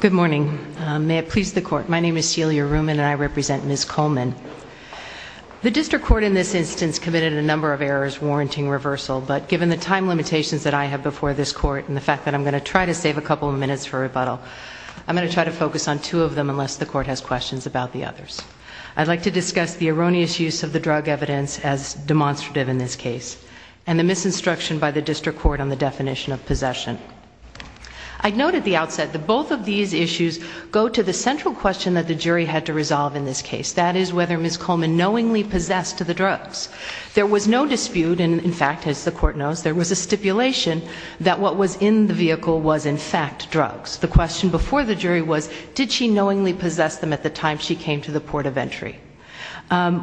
Good morning. May it please the Court, my name is Celia Ruman and I represent Ms. Colman. The District Court in this instance committed a number of errors warranting reversal, but given the time limitations that I have before this Court and the fact that I'm going to try to save a couple of minutes for rebuttal, I'm going to try to focus on two of them unless the Court has questions about the others. I'd like to discuss the erroneous use of the drug evidence as demonstrative in this case, and the misinstruction by the District Court on the definition of possession. I'd note at the outset that both of these issues go to the central question that the jury had to resolve in this case, that is whether Ms. Colman knowingly possessed the drugs. There was no dispute and in fact, as the Court knows, there was a stipulation that what was in the vehicle was in fact drugs. The question before the jury was, did she knowingly possess them at the time she came to the port of entry?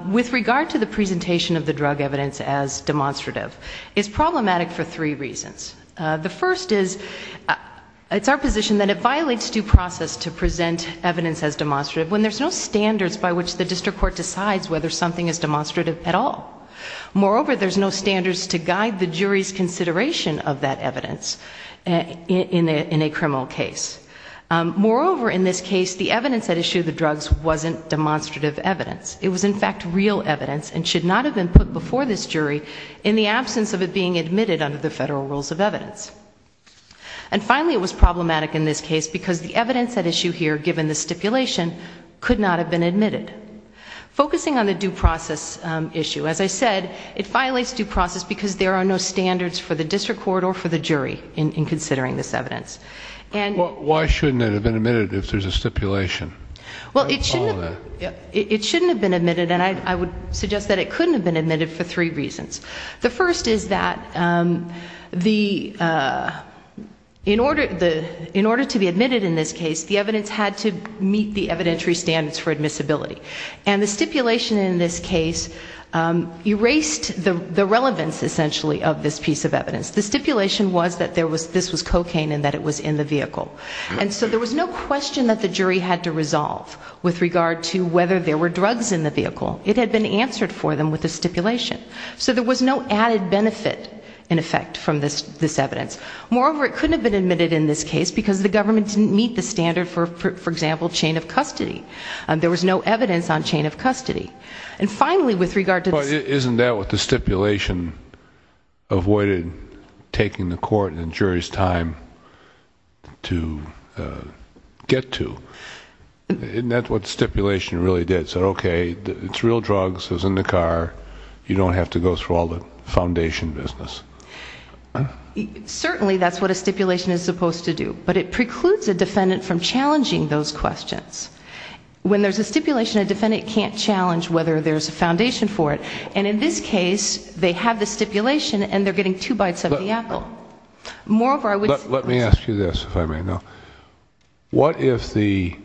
With regard to the presentation of the drug evidence as demonstrative, it's problematic for three reasons. The first is, it's our position that it violates due process to present evidence as demonstrative when there's no standards by which the District Court decides whether something is demonstrative at all. Moreover, there's no standards to guide the jury's consideration of that evidence in a criminal case. Moreover, in this case, the evidence at issue of the drugs wasn't demonstrative evidence. It was in fact real evidence and should not have been put before this jury in the absence of it being admitted under the federal rules of evidence. And finally, it was problematic in this case because the evidence at issue here, given the stipulation, could not have been admitted. Focusing on the due process issue, as I said, it violates due process because there are no standards for the District Court or for the jury in considering this evidence. Why shouldn't it have been admitted if there's a stipulation? Well, it shouldn't have been admitted and I would suggest that it couldn't have been admitted for three reasons. The first is that the, in order to be admitted in this case, the evidence had to meet the evidentiary standards for admissibility. And the stipulation in this case erased the relevance, essentially, of this piece of evidence. The stipulation was that this was cocaine and that it was in the vehicle. And so there was no question that the jury had to resolve with regard to whether there were drugs in the vehicle. It had been answered for them with a stipulation. So there was no added benefit, in effect, from this evidence. Moreover, it couldn't have been admitted in this case because the government didn't meet the standard for, for example, chain of custody. There was no evidence on chain of custody. And finally, with regard to the... But isn't that what the stipulation avoided taking the court and jury's time to get to you? Isn't that what stipulation really did? It said, okay, it's real drugs, it was in the car, you don't have to go through all the foundation business. Certainly that's what a stipulation is supposed to do. But it precludes a defendant from challenging those questions. When there's a stipulation, a defendant can't challenge whether there's a foundation for it. And in this case, they have the stipulation and they're getting two bites of the apple. Moreover, I would... Let me ask you this, if I may now. What if the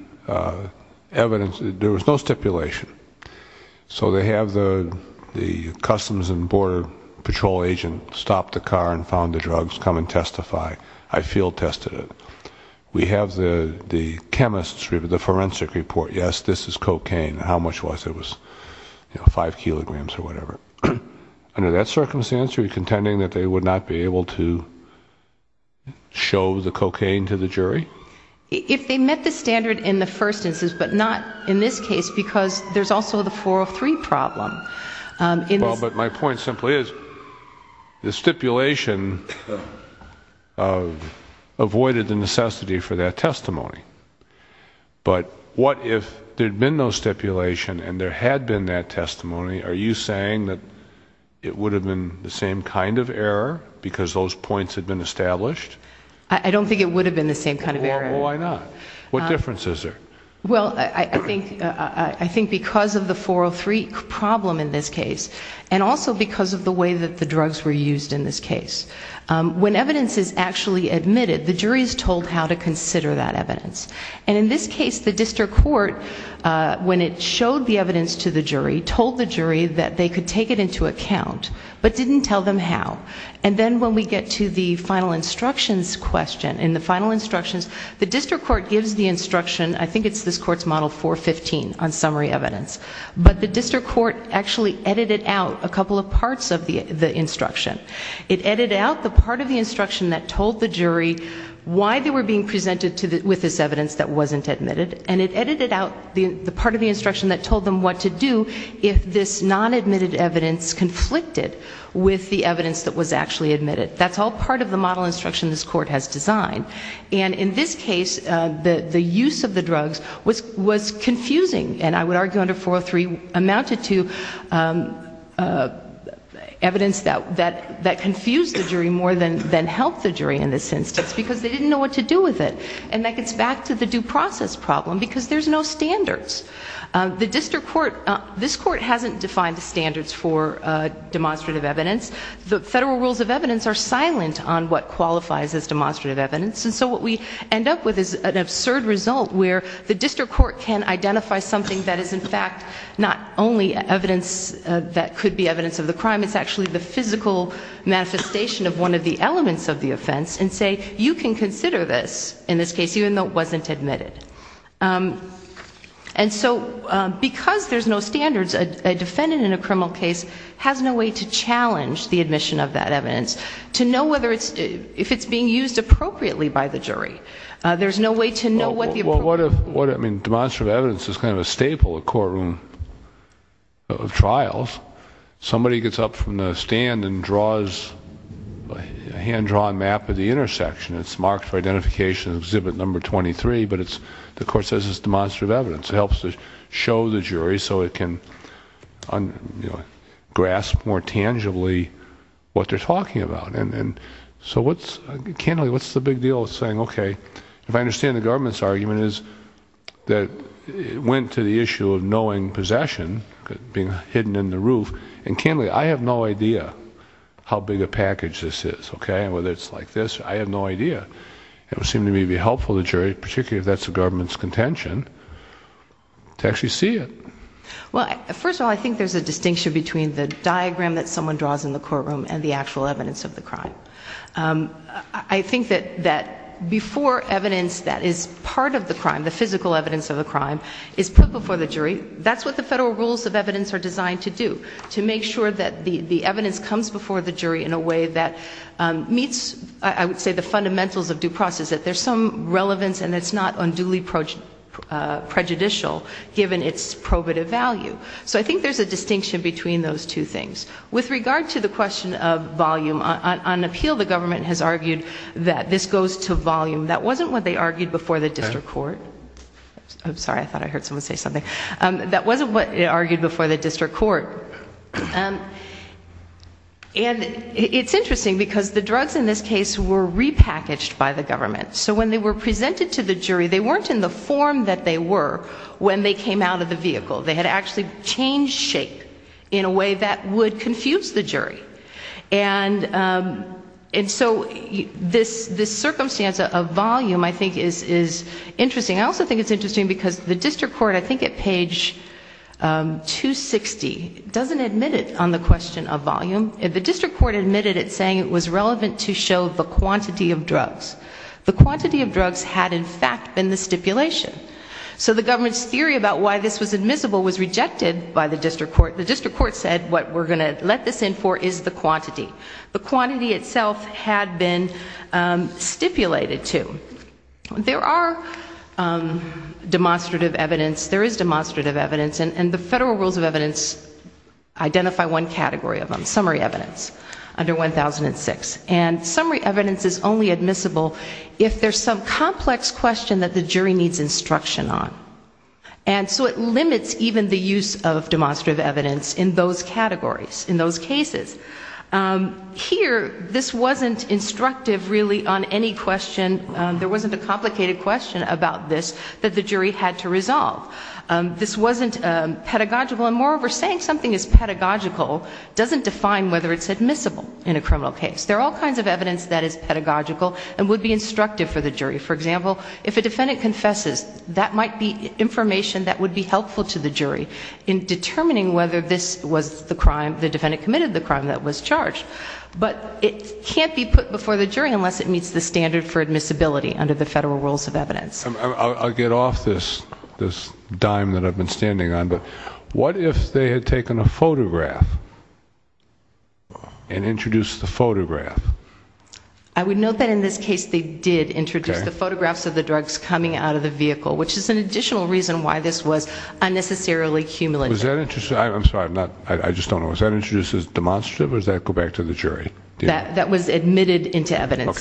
evidence... There was no stipulation. So they have the Customs and Border Patrol agent stop the car and found the drugs, come and testify. I feel tested it. We have the chemists, we have the forensic report. Yes, this is cocaine. How much was it? It was, you know, five kilograms or whatever. Under that circumstance, are you contending that they would not be able to show the cocaine to the jury? If they met the standard in the first instance, but not in this case, because there's also the 403 problem. Well, but my point simply is, the stipulation avoided the necessity for that testimony. But what if there'd been no stipulation and there had been that testimony? Are you saying that it would have been the same kind of error because those points had been established? I don't think it would have been the same kind of error. Why not? What difference is there? Well, I think because of the 403 problem in this case, and also because of the way that the drugs were used in this case. When evidence is actually admitted, the jury is told how to consider that evidence. And in this case, the district court, when it showed the evidence to the jury, told the jury that they could take it into account, but didn't tell them how. And then when we get to the final instructions question, in the final instructions, the district court gives the instruction, I think it's this court's model 415 on summary evidence. But the district court actually edited out a couple of parts of the instruction. It edited out the part of the instruction that told the jury why they were being presented with this evidence that wasn't admitted, and it edited out the part of the instruction that told them what to do if this non-admitted evidence conflicted with the evidence that was actually admitted. That's all part of the model instruction this court has designed. And in this case, the use of the drugs was confusing, and I would argue under 403 amounted to evidence that confused the jury more than helped the jury in this instance, because they didn't know what to do with it. And that gets back to the due process problem, because there's no standards. The district court, this court hasn't defined the standards for demonstrative evidence. The federal rules of evidence are silent on what qualifies as demonstrative evidence, and so what we end up with is an absurd result where the district court can identify something that is, in fact, not only evidence that could be evidence of the crime, it's actually the physical manifestation of one of the elements of the offense, and say, you can consider this in this case, even though it wasn't admitted. And so, because there's no standards, a defendant in a criminal case has no way to challenge the admission of that evidence, to know whether it's, if it's being used appropriately by the jury. There's no way to know what the appropriate... Well, what if, I mean, demonstrative evidence is kind of a staple of courtroom, of trials. Somebody gets up from the stand and draws a hand-drawn map of the intersection. It's marked for identification Exhibit Number 23, but it's, the court says it's demonstrative evidence. It helps to show the jury so it can grasp more tangibly what they're talking about. And so what's, I can't really, what's the big deal with saying, okay, if I understand the government's argument is that it went to the issue of knowing possession, being hidden in the roof, and candidly, I have no idea how big a package this is, okay, and whether it's like this. I have no idea. It would seem to me to be helpful to the jury, particularly if that's the government's contention, to actually see it. Well, first of all, I think there's a distinction between the diagram that someone draws in the courtroom and the actual evidence of the crime. I think that before evidence that is part of the crime, the physical evidence of the crime, is put before the jury, that's what the federal rules of evidence are designed to do, to make sure that the evidence comes before the jury in a way that meets, I would say, the fundamentals of due process, that there's some relevance and it's not unduly prejudicial, given its probative value. So I think there's a distinction between those two things. With regard to the question of volume, on appeal, the government has argued that this goes to volume. That wasn't what they argued before the district court. I'm sorry, I thought I heard someone say something. That wasn't what they argued before the district court. And it's interesting, because the drugs in this case were repackaged by the government. So when they were presented to the jury, they weren't in the form that they were when they came out of the vehicle. They had actually changed shape in a way that would confuse the jury. And so this circumstance of volume, I think, is interesting. I also think it's interesting that the district court, I think at page 260, doesn't admit it on the question of volume. The district court admitted it, saying it was relevant to show the quantity of drugs. The quantity of drugs had, in fact, been the stipulation. So the government's theory about why this was admissible was rejected by the district court. The district court said what we're going to let this in for is the quantity. The quantity itself had been stipulated to. There are demonstrative evidence. There is demonstrative evidence. And the federal rules of evidence identify one category of them, summary evidence, under 1006. And summary evidence is only admissible if there's some complex question that the jury needs instruction on. And so it limits even the use of demonstrative evidence in those categories, in those cases. Here, this wasn't instructive, really, on any question. There wasn't a complicated question about this that the jury had to resolve. This wasn't pedagogical. And moreover, saying something is pedagogical doesn't define whether it's admissible in a criminal case. There are all kinds of evidence that is pedagogical and would be instructive for the jury. For example, if a defendant confesses, that might be information that would be helpful to the jury in determining whether this was the crime, the defendant committed the crime that was charged. But it can't be put before the jury unless it meets the standard for admissibility under the federal rules of evidence. I'll get off this dime that I've been standing on, but what if they had taken a photograph and introduced the photograph? I would note that in this case they did introduce the photographs of the drugs coming out of the vehicle, which is an additional reason why this was unnecessarily cumulative. Was that introduced as demonstrative or did that go back to the jury? That was admitted into evidence.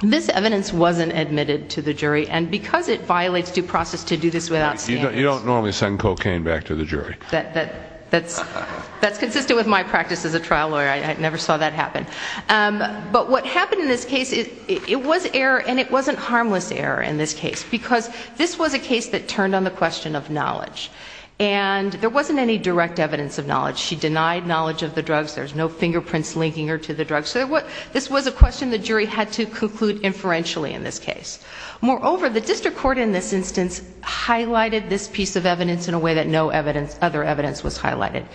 This evidence wasn't admitted to the jury, and because it violates due process to do this without standards. You don't normally send cocaine back to the jury. That's consistent with my practice as a trial lawyer. I never saw that happen. But what this was a case that turned on the question of knowledge. And there wasn't any direct evidence of knowledge. She denied knowledge of the drugs. There's no fingerprints linking her to the drugs. So this was a question the jury had to conclude inferentially in this case. Moreover, the district court in this instance highlighted this piece of evidence in a way that no other evidence was highlighted.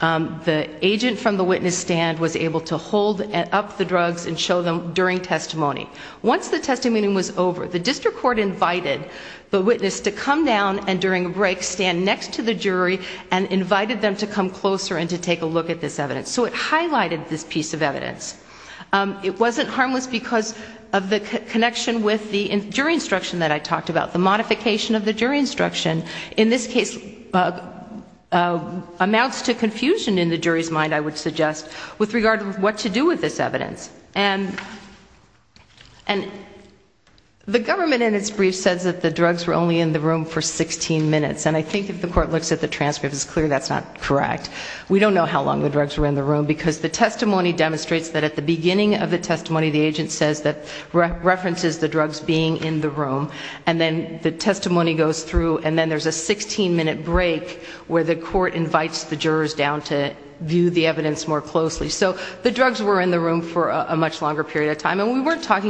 The agent from the witness stand was able to hold up the drugs and show them during testimony. Once the testimony was over, the district court invited the witness to come down and during a break stand next to the jury and invited them to come closer and to take a look at this evidence. So it highlighted this piece of evidence. It wasn't harmless because of the connection with the jury instruction that I talked about. The modification of the jury instruction in this case amounts to confusion in the jury's mind, I would suggest, with regard to what to do with this evidence. And the government in its brief says that the drugs were only in the room for 16 minutes. And I think if the court looks at the transcript, it's clear that's not correct. We don't know how long the drugs were in the room because the testimony demonstrates that at the beginning of the testimony, the agent says that references the drugs being in the room. And then the testimony goes through and then there's a 16-minute break where the court invites the witness to come closer and to take a look at this evidence. It was 45 pounds, so about 20 kilograms. That's my recollection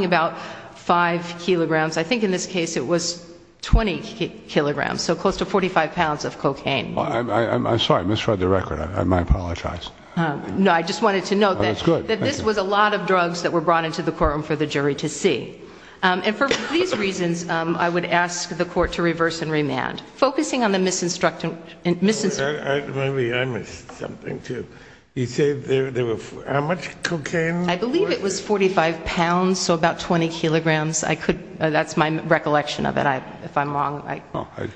of it, if I'm wrong.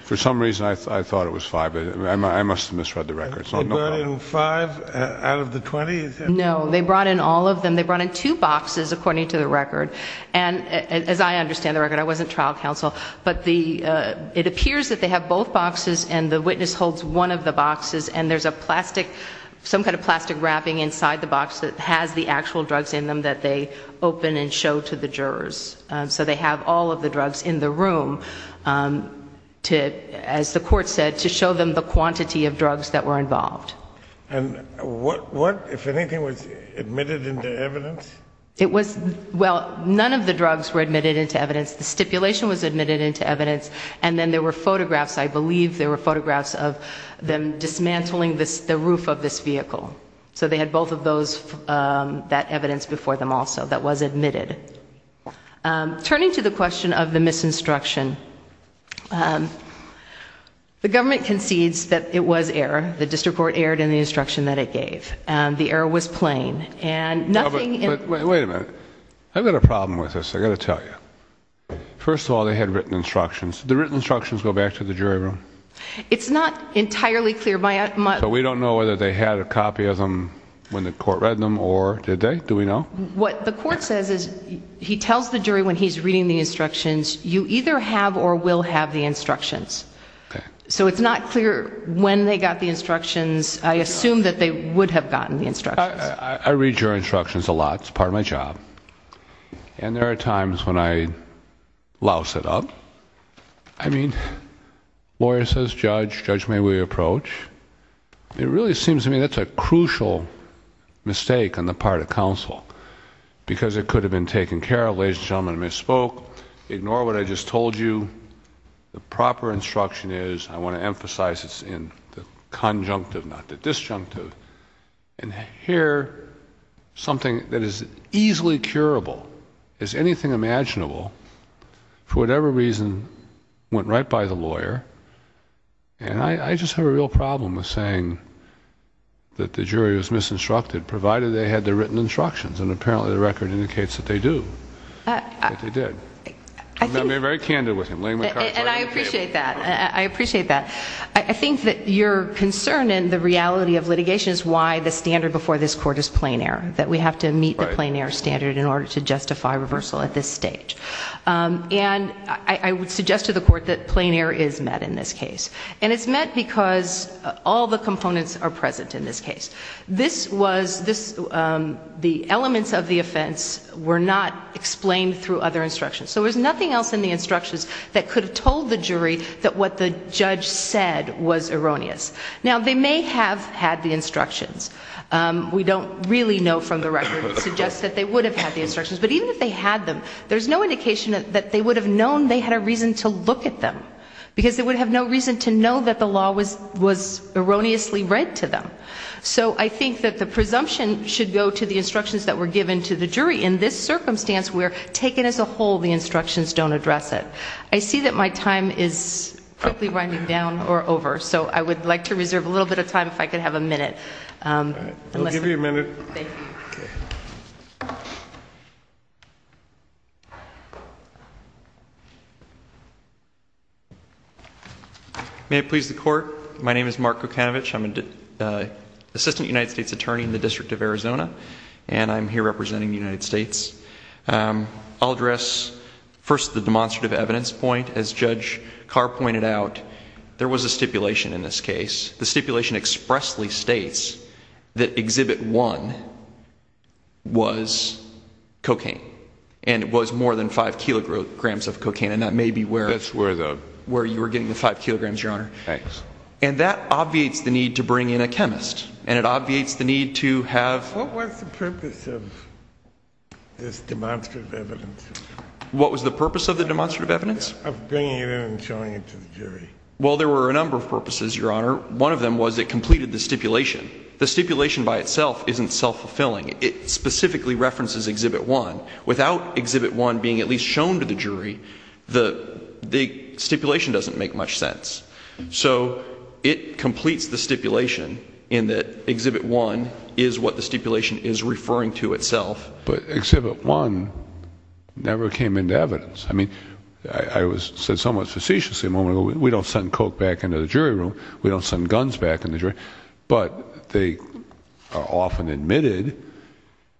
For some reason, I thought it was 5. I must have misread the record. They brought in 5 out of the 20? No, they brought in all of them. They brought in two boxes, according to the record. As I understand the record, I wasn't trial counsel, but it appears that they have both boxes and the witness holds one of the boxes and there's some kind of plastic wrapping inside the box that has the actual drugs in them that they open and show to the jurors. So they have all of the drugs in the room to, as the court said, to show them the quantity of drugs that were involved. And what, if anything, was admitted into evidence? It was, well, none of the drugs were admitted into evidence. The stipulation was admitted into evidence. And then there were photographs, I believe there were photographs of them dismantling the roof of this vehicle. So they had both of those, that evidence before them also that was admitted. Turning to the question of the misinstruction, the government concedes that it was error. The district court erred in the instruction that it gave. The error was plain. Wait a minute. I've got a problem with this, I've got to tell you. First of all, they had written instructions. Did the written instructions go back to the jury room? It's not entirely clear. We don't know whether they had a copy of them when the court read them, or did they? Do we know? What the court says is, he tells the jury when he's reading the instructions, you either have or will have the instructions. So it's not clear when they got the instructions. I assume that they would have gotten the instructions. I read your instructions a lot. It's part of my job. And there are times when I louse it up. I mean, lawyer says judge, judge may we approach. It really seems to me that's a crucial mistake on the part of counsel, because it could have been taken care of. Ladies and gentlemen, I misspoke. Ignore what I just told you. The proper instruction is, I want to emphasize it's in the conjunctive, not the disjunctive. And here, something that is easily curable, is anything imaginable, for whatever reason, went right by the lawyer. And I just have a real problem with saying that the jury was misinstructed, provided they had the written instructions. And apparently the record indicates that they do. That they did. I'm being very candid with him. And I appreciate that. I appreciate that. I think that your concern in the reality of plain air standard in order to justify reversal at this stage. And I would suggest to the court that plain air is met in this case. And it's met because all the components are present in this case. This was, the elements of the offense were not explained through other instructions. So there's nothing else in the instructions that could have told the jury that what the judge said was erroneous. Now, they may have had the instructions. We don't really know from the record. It suggests that they would have had the instructions. But even if they had them, there's no indication that they would have known they had a reason to look at them. Because they would have no reason to know that the law was erroneously read to them. So I think that the presumption should go to the instructions that were given to the jury. In this circumstance, where taken as a whole, the instructions don't address it. I see that my time is quickly winding down or over. So I would like to reserve a little bit of time if I could have a minute. We'll give you a minute. Thank you. May it please the court. My name is Mark Kokanovich. I'm an Assistant United States Attorney in the District of Arizona. And I'm here representing the United States. I'll address first the evidence point. As Judge Carr pointed out, there was a stipulation in this case. The stipulation expressly states that Exhibit 1 was cocaine. And it was more than 5 kilograms of cocaine. And that may be where you were getting the 5 kilograms, Your Honor. And that obviates the need to bring in a chemist. And it obviates the need to have... What was the purpose of this demonstrative evidence? What was the purpose of the demonstrative evidence? Of bringing it in and showing it to the jury. Well, there were a number of purposes, Your Honor. One of them was it completed the stipulation. The stipulation by itself isn't self-fulfilling. It specifically references Exhibit 1. Without Exhibit 1 being at least shown to the jury, the stipulation doesn't make much sense. So it completes the stipulation in that Exhibit 1 is what the stipulation is referring to itself. But Exhibit 1 never came into evidence. I mean, I said somewhat facetiously a moment ago, we don't send coke back into the jury room. We don't send guns back into the jury. But they are often admitted.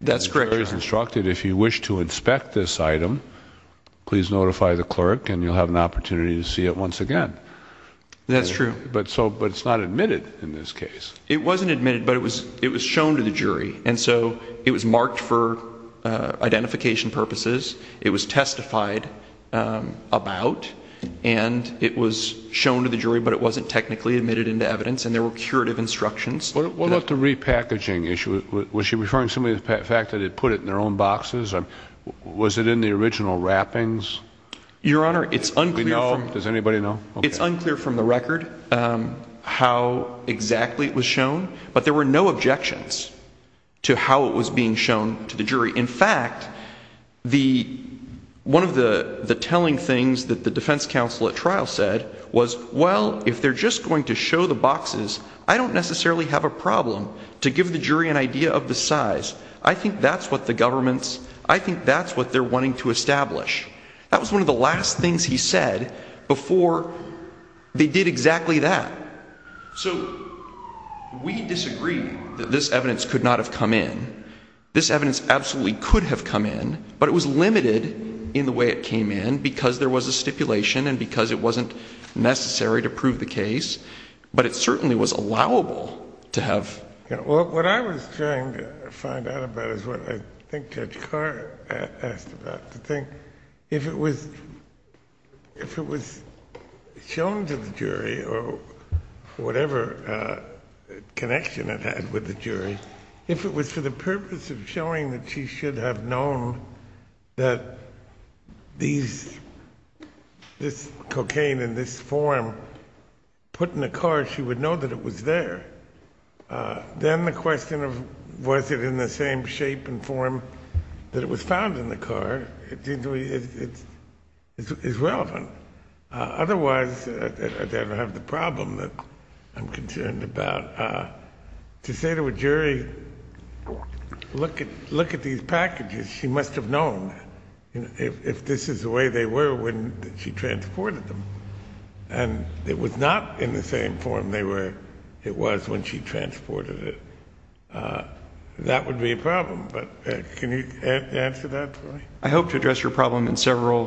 That's correct, Your Honor. The jury is instructed, if you wish to inspect this item, please notify the clerk and you'll have an opportunity to see it once again. That's true. But it's not admitted in this case. It wasn't admitted, but it was shown to the jury. And so it was marked for identification purposes. It was testified about. And it was shown to the jury, but it wasn't technically admitted into evidence. And there were curative instructions. What about the repackaging issue? Was she referring to the fact that they put it in their own boxes? Was it in the original wrappings? Your Honor, it's unclear from the record how exactly it was shown to the jury. It was shown, but there were no objections to how it was being shown to the jury. In fact, one of the telling things that the defense counsel at trial said was, well, if they're just going to show the boxes, I don't necessarily have a problem to give the jury an idea of the size. I think that's what the government's, I think that's what they're wanting to establish. That was one of the last things he said before they did exactly that. So we disagree that this evidence could not have come in. This evidence absolutely could have come in, but it was limited in the way it came in because there was a stipulation and because it wasn't necessary to prove the case. But it certainly was allowable to have What I was trying to find out about is what I think Judge Carr asked about, to think if it was shown to the jury or whatever connection it had with the jury, if it was for the purpose of showing that she should have known that this cocaine in this form put in the car, she would know that it was there. Then the question of was it in the same shape and form that it was found in the car is relevant. Otherwise, I don't have the problem that I'm concerned about. To say to a jury, look at these packages, she must have known if this is the way they were when she transported them. And it was not in the same form it was when she transported it. That would be a problem, but can you answer that for me? I hope to address your problem in several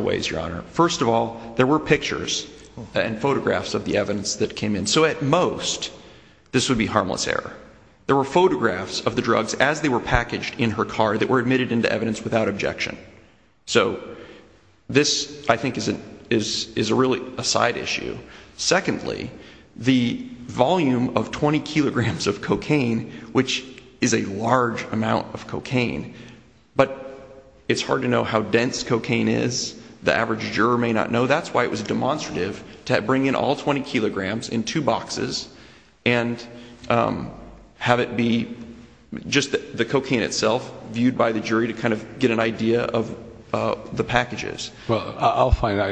ways, Your Honor. First of all, there were pictures and photographs of the evidence that came in. So at most, this would be harmless error. There were photographs of the drugs as they were packaged in her car that were admitted into evidence without objection. So this, I think, is really a side issue. Secondly, the volume of 20 kilograms of cocaine, which is a large amount of cocaine, but it's hard to know how dense cocaine is. The average juror may not know. That's why it was demonstrative to bring in all 20 kilograms in two boxes and have it be just the cocaine itself viewed by the jury to kind of get an idea of the packages. Well, I'll find out.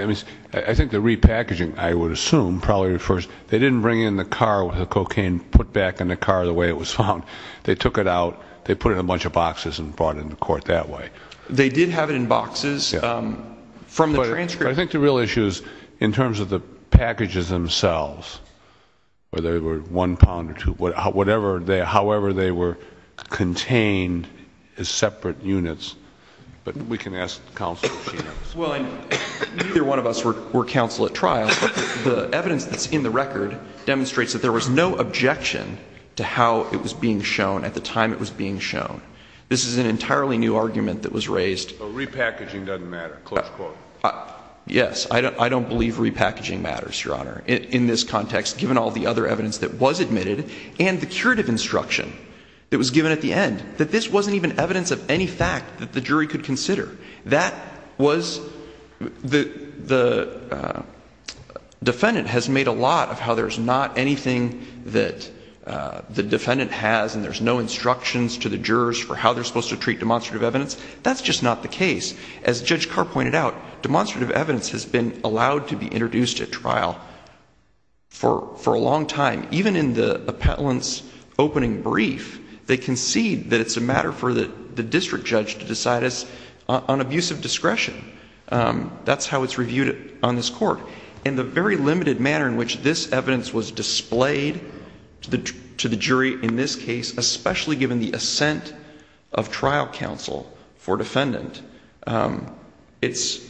I think the repackaging, I would assume, probably refers, they didn't bring it in the car with the cocaine put back in the car the way it was found. They took it out, they put it in a bunch of boxes and brought it into court that way. They did have it in boxes from the transcript. But I think the real issue is in terms of the packages themselves, whether they were one pound or two, however they were contained as separate units. But we can ask counsel at trial. The evidence that's in the record demonstrates that there was no objection to how it was being shown at the time it was being shown. This is an entirely new argument that was raised. Repackaging doesn't matter, close quote. Yes. I don't believe repackaging matters, Your Honor, in this context, given all the other evidence that was admitted and the curative instruction that was given at the end, that this wasn't even evidence of any fact that the jury could consider. That was, the defendant has made a lot of how there's not anything that the defendant has and there's no instructions to the jurors for how they're supposed to treat demonstrative evidence. That's just not the case. As Judge Carr pointed out, demonstrative evidence has been allowed to be introduced at trial for a long time. Even in the appellant's opening brief, they concede that it's a matter for the district judge to decide on abusive discretion. That's how it's reviewed on this court. In the very limited manner in which this evidence was displayed to the jury in this case, especially given the assent of trial counsel for defendant, it's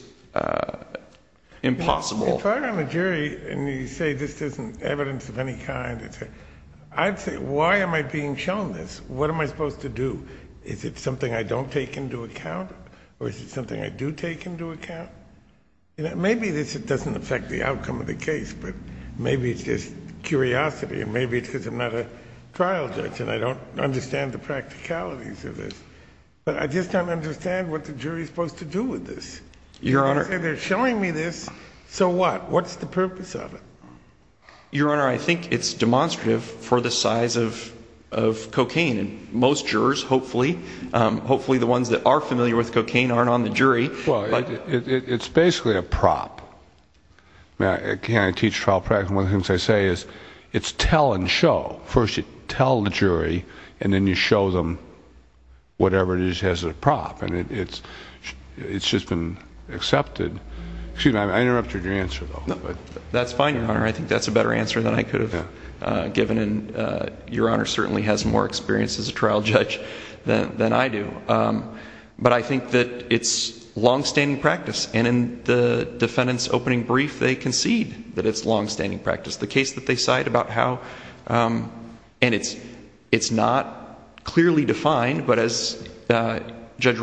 impossible. If I'm a jury and you say this isn't evidence of any kind, I'd say, why am I being shown this? What am I supposed to do? Is it something I don't take into account or is it something I do take into account? Maybe this doesn't affect the outcome of the case, but maybe it's just curiosity and maybe it's because I'm not a trial judge and I don't understand the practicalities of this. But I just don't understand what the jury's supposed to do with this. Your Honor. They're showing me this, so what? What's the purpose of it? Your Honor, I think it's demonstrative for the size of cocaine. Most jurors, hopefully, hopefully the ones that are familiar with cocaine aren't on the jury. Well, it's basically a prop. Again, I teach trial practice and one of the things I say is it's tell and show. First you tell the jury and then you show them whatever it is I interrupted your answer, though. That's fine, Your Honor. I think that's a better answer than I could have given and Your Honor certainly has more experience as a trial judge than I do. But I think that it's long-standing practice and in the defendant's opening brief they concede that it's long-standing practice. The case that they cite about how, and it's not clearly defined, but as Judge that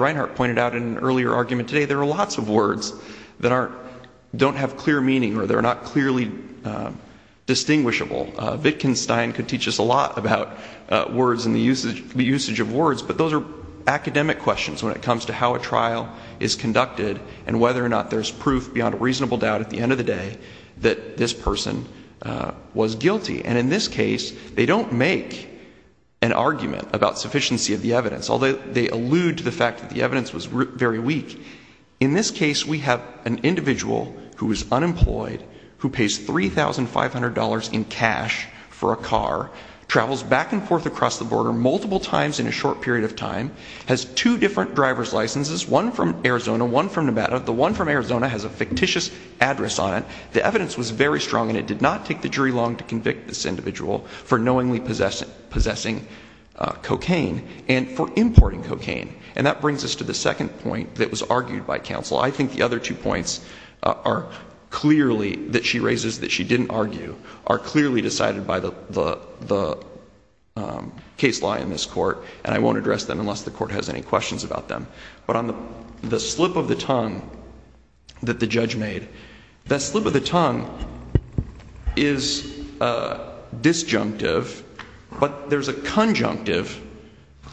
don't have clear meaning or they're not clearly distinguishable. Wittgenstein could teach us a lot about words and the usage of words, but those are academic questions when it comes to how a trial is conducted and whether or not there's proof beyond a reasonable doubt at the end of the day that this person was guilty. And in this case they don't make an argument about sufficiency of the evidence, although they allude to the fact that the evidence was very weak. In this case we have an individual who is unemployed, who pays $3,500 in cash for a car, travels back and forth across the border multiple times in a short period of time, has two different driver's licenses, one from Arizona, one from Nevada. The one from Arizona has a fictitious address on it. The evidence was very strong and it did not take the jury long to convict this individual for knowingly possessing cocaine and for importing cocaine. And that brings us to the second point that was argued by counsel. I think the other two points are clearly, that she raises that she didn't argue, are clearly decided by the case law in this court, and I won't address them unless the court has any questions about them. But on the slip of the tongue that the judge made, that slip of the tongue is disjunctive, but there's a conjunctive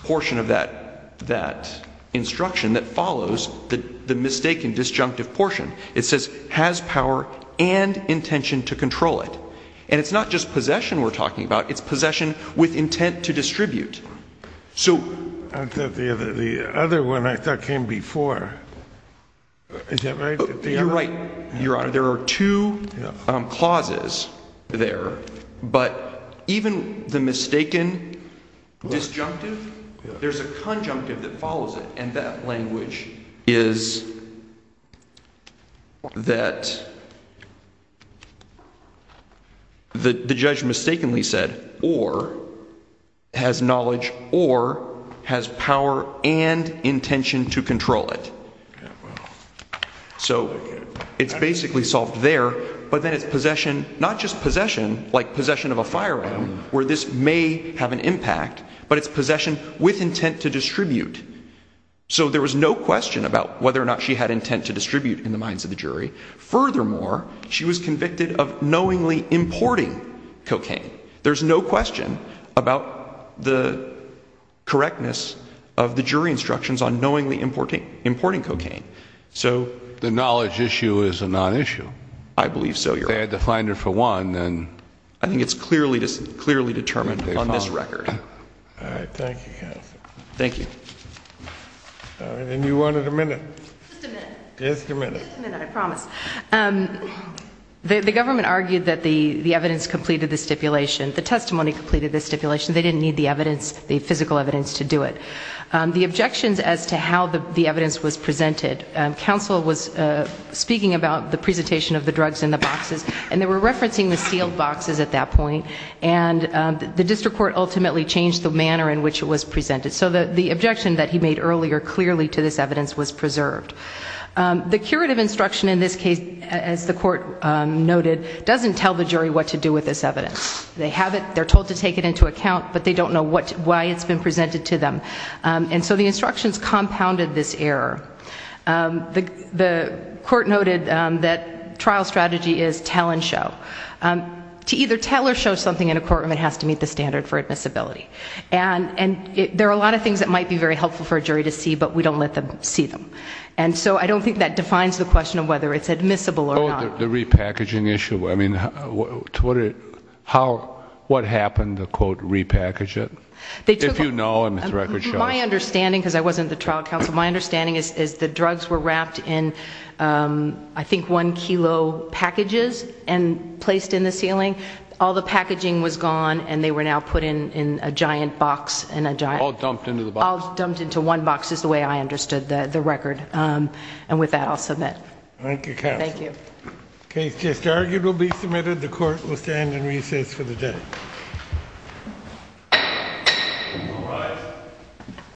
portion of that instruction that follows the mistaken disjunctive portion. It says, has power and intention to control it. And it's not just possession we're talking about, it's possession with intent to distribute. The other one I thought came before, is that right? You're right, Your Honor. There are two clauses there, but even the mistaken disjunctive, there's a conjunctive that follows it, and that language is that the judge mistakenly said, or has knowledge or has power and intention to control it. So it's basically solved there, but then it's possession, not just possession, like possession of a firearm, where this may have an impact, but it's possession with intent to distribute. So there was no question about whether or not she had intent to distribute in the minds of the jury. Furthermore, she was convicted of knowingly importing cocaine. There's no question about the correctness of the jury instructions on knowingly importing cocaine. The knowledge issue is a non-issue. I believe so, Your Honor. If they had to find it for one, then... I think it's clearly determined on this record. All right, thank you, counsel. Thank you. All right, and you wanted a minute. Just a minute. Just a minute. Just a minute, I promise. The government argued that the evidence completed the stipulation, the testimony completed the stipulation. They didn't need the evidence, the physical evidence to do it. The objections as to how the evidence was presented, counsel was speaking about the presentation of the drugs in the boxes, and they were referencing the sealed boxes at that point, and the district court ultimately changed the manner in which it was presented. So the objection that he made earlier clearly to this evidence was preserved. The curative instruction in this case, as the court noted, doesn't tell the jury what to do with this evidence. They have it, they're told to take it into account, but they don't know why it's been presented to them. And so the instructions compounded this error. The court noted that trial strategy is tell and show. To either tell or show something in a courtroom, it has to meet the standard for admissibility. And there are a lot of things that would be very helpful for a jury to see, but we don't let them see them. And so I don't think that defines the question of whether it's admissible or not. Oh, the repackaging issue. I mean, what happened to, quote, repackage it? If you know, and this record shows. My understanding, because I wasn't the trial counsel, my understanding is the drugs were wrapped in, I think, one kilo packages and placed in the ceiling. All the packaging was the way I understood the record. And with that, I'll submit. Thank you, counsel. Thank you. The case just argued will be submitted. The court will stand in recess for the day.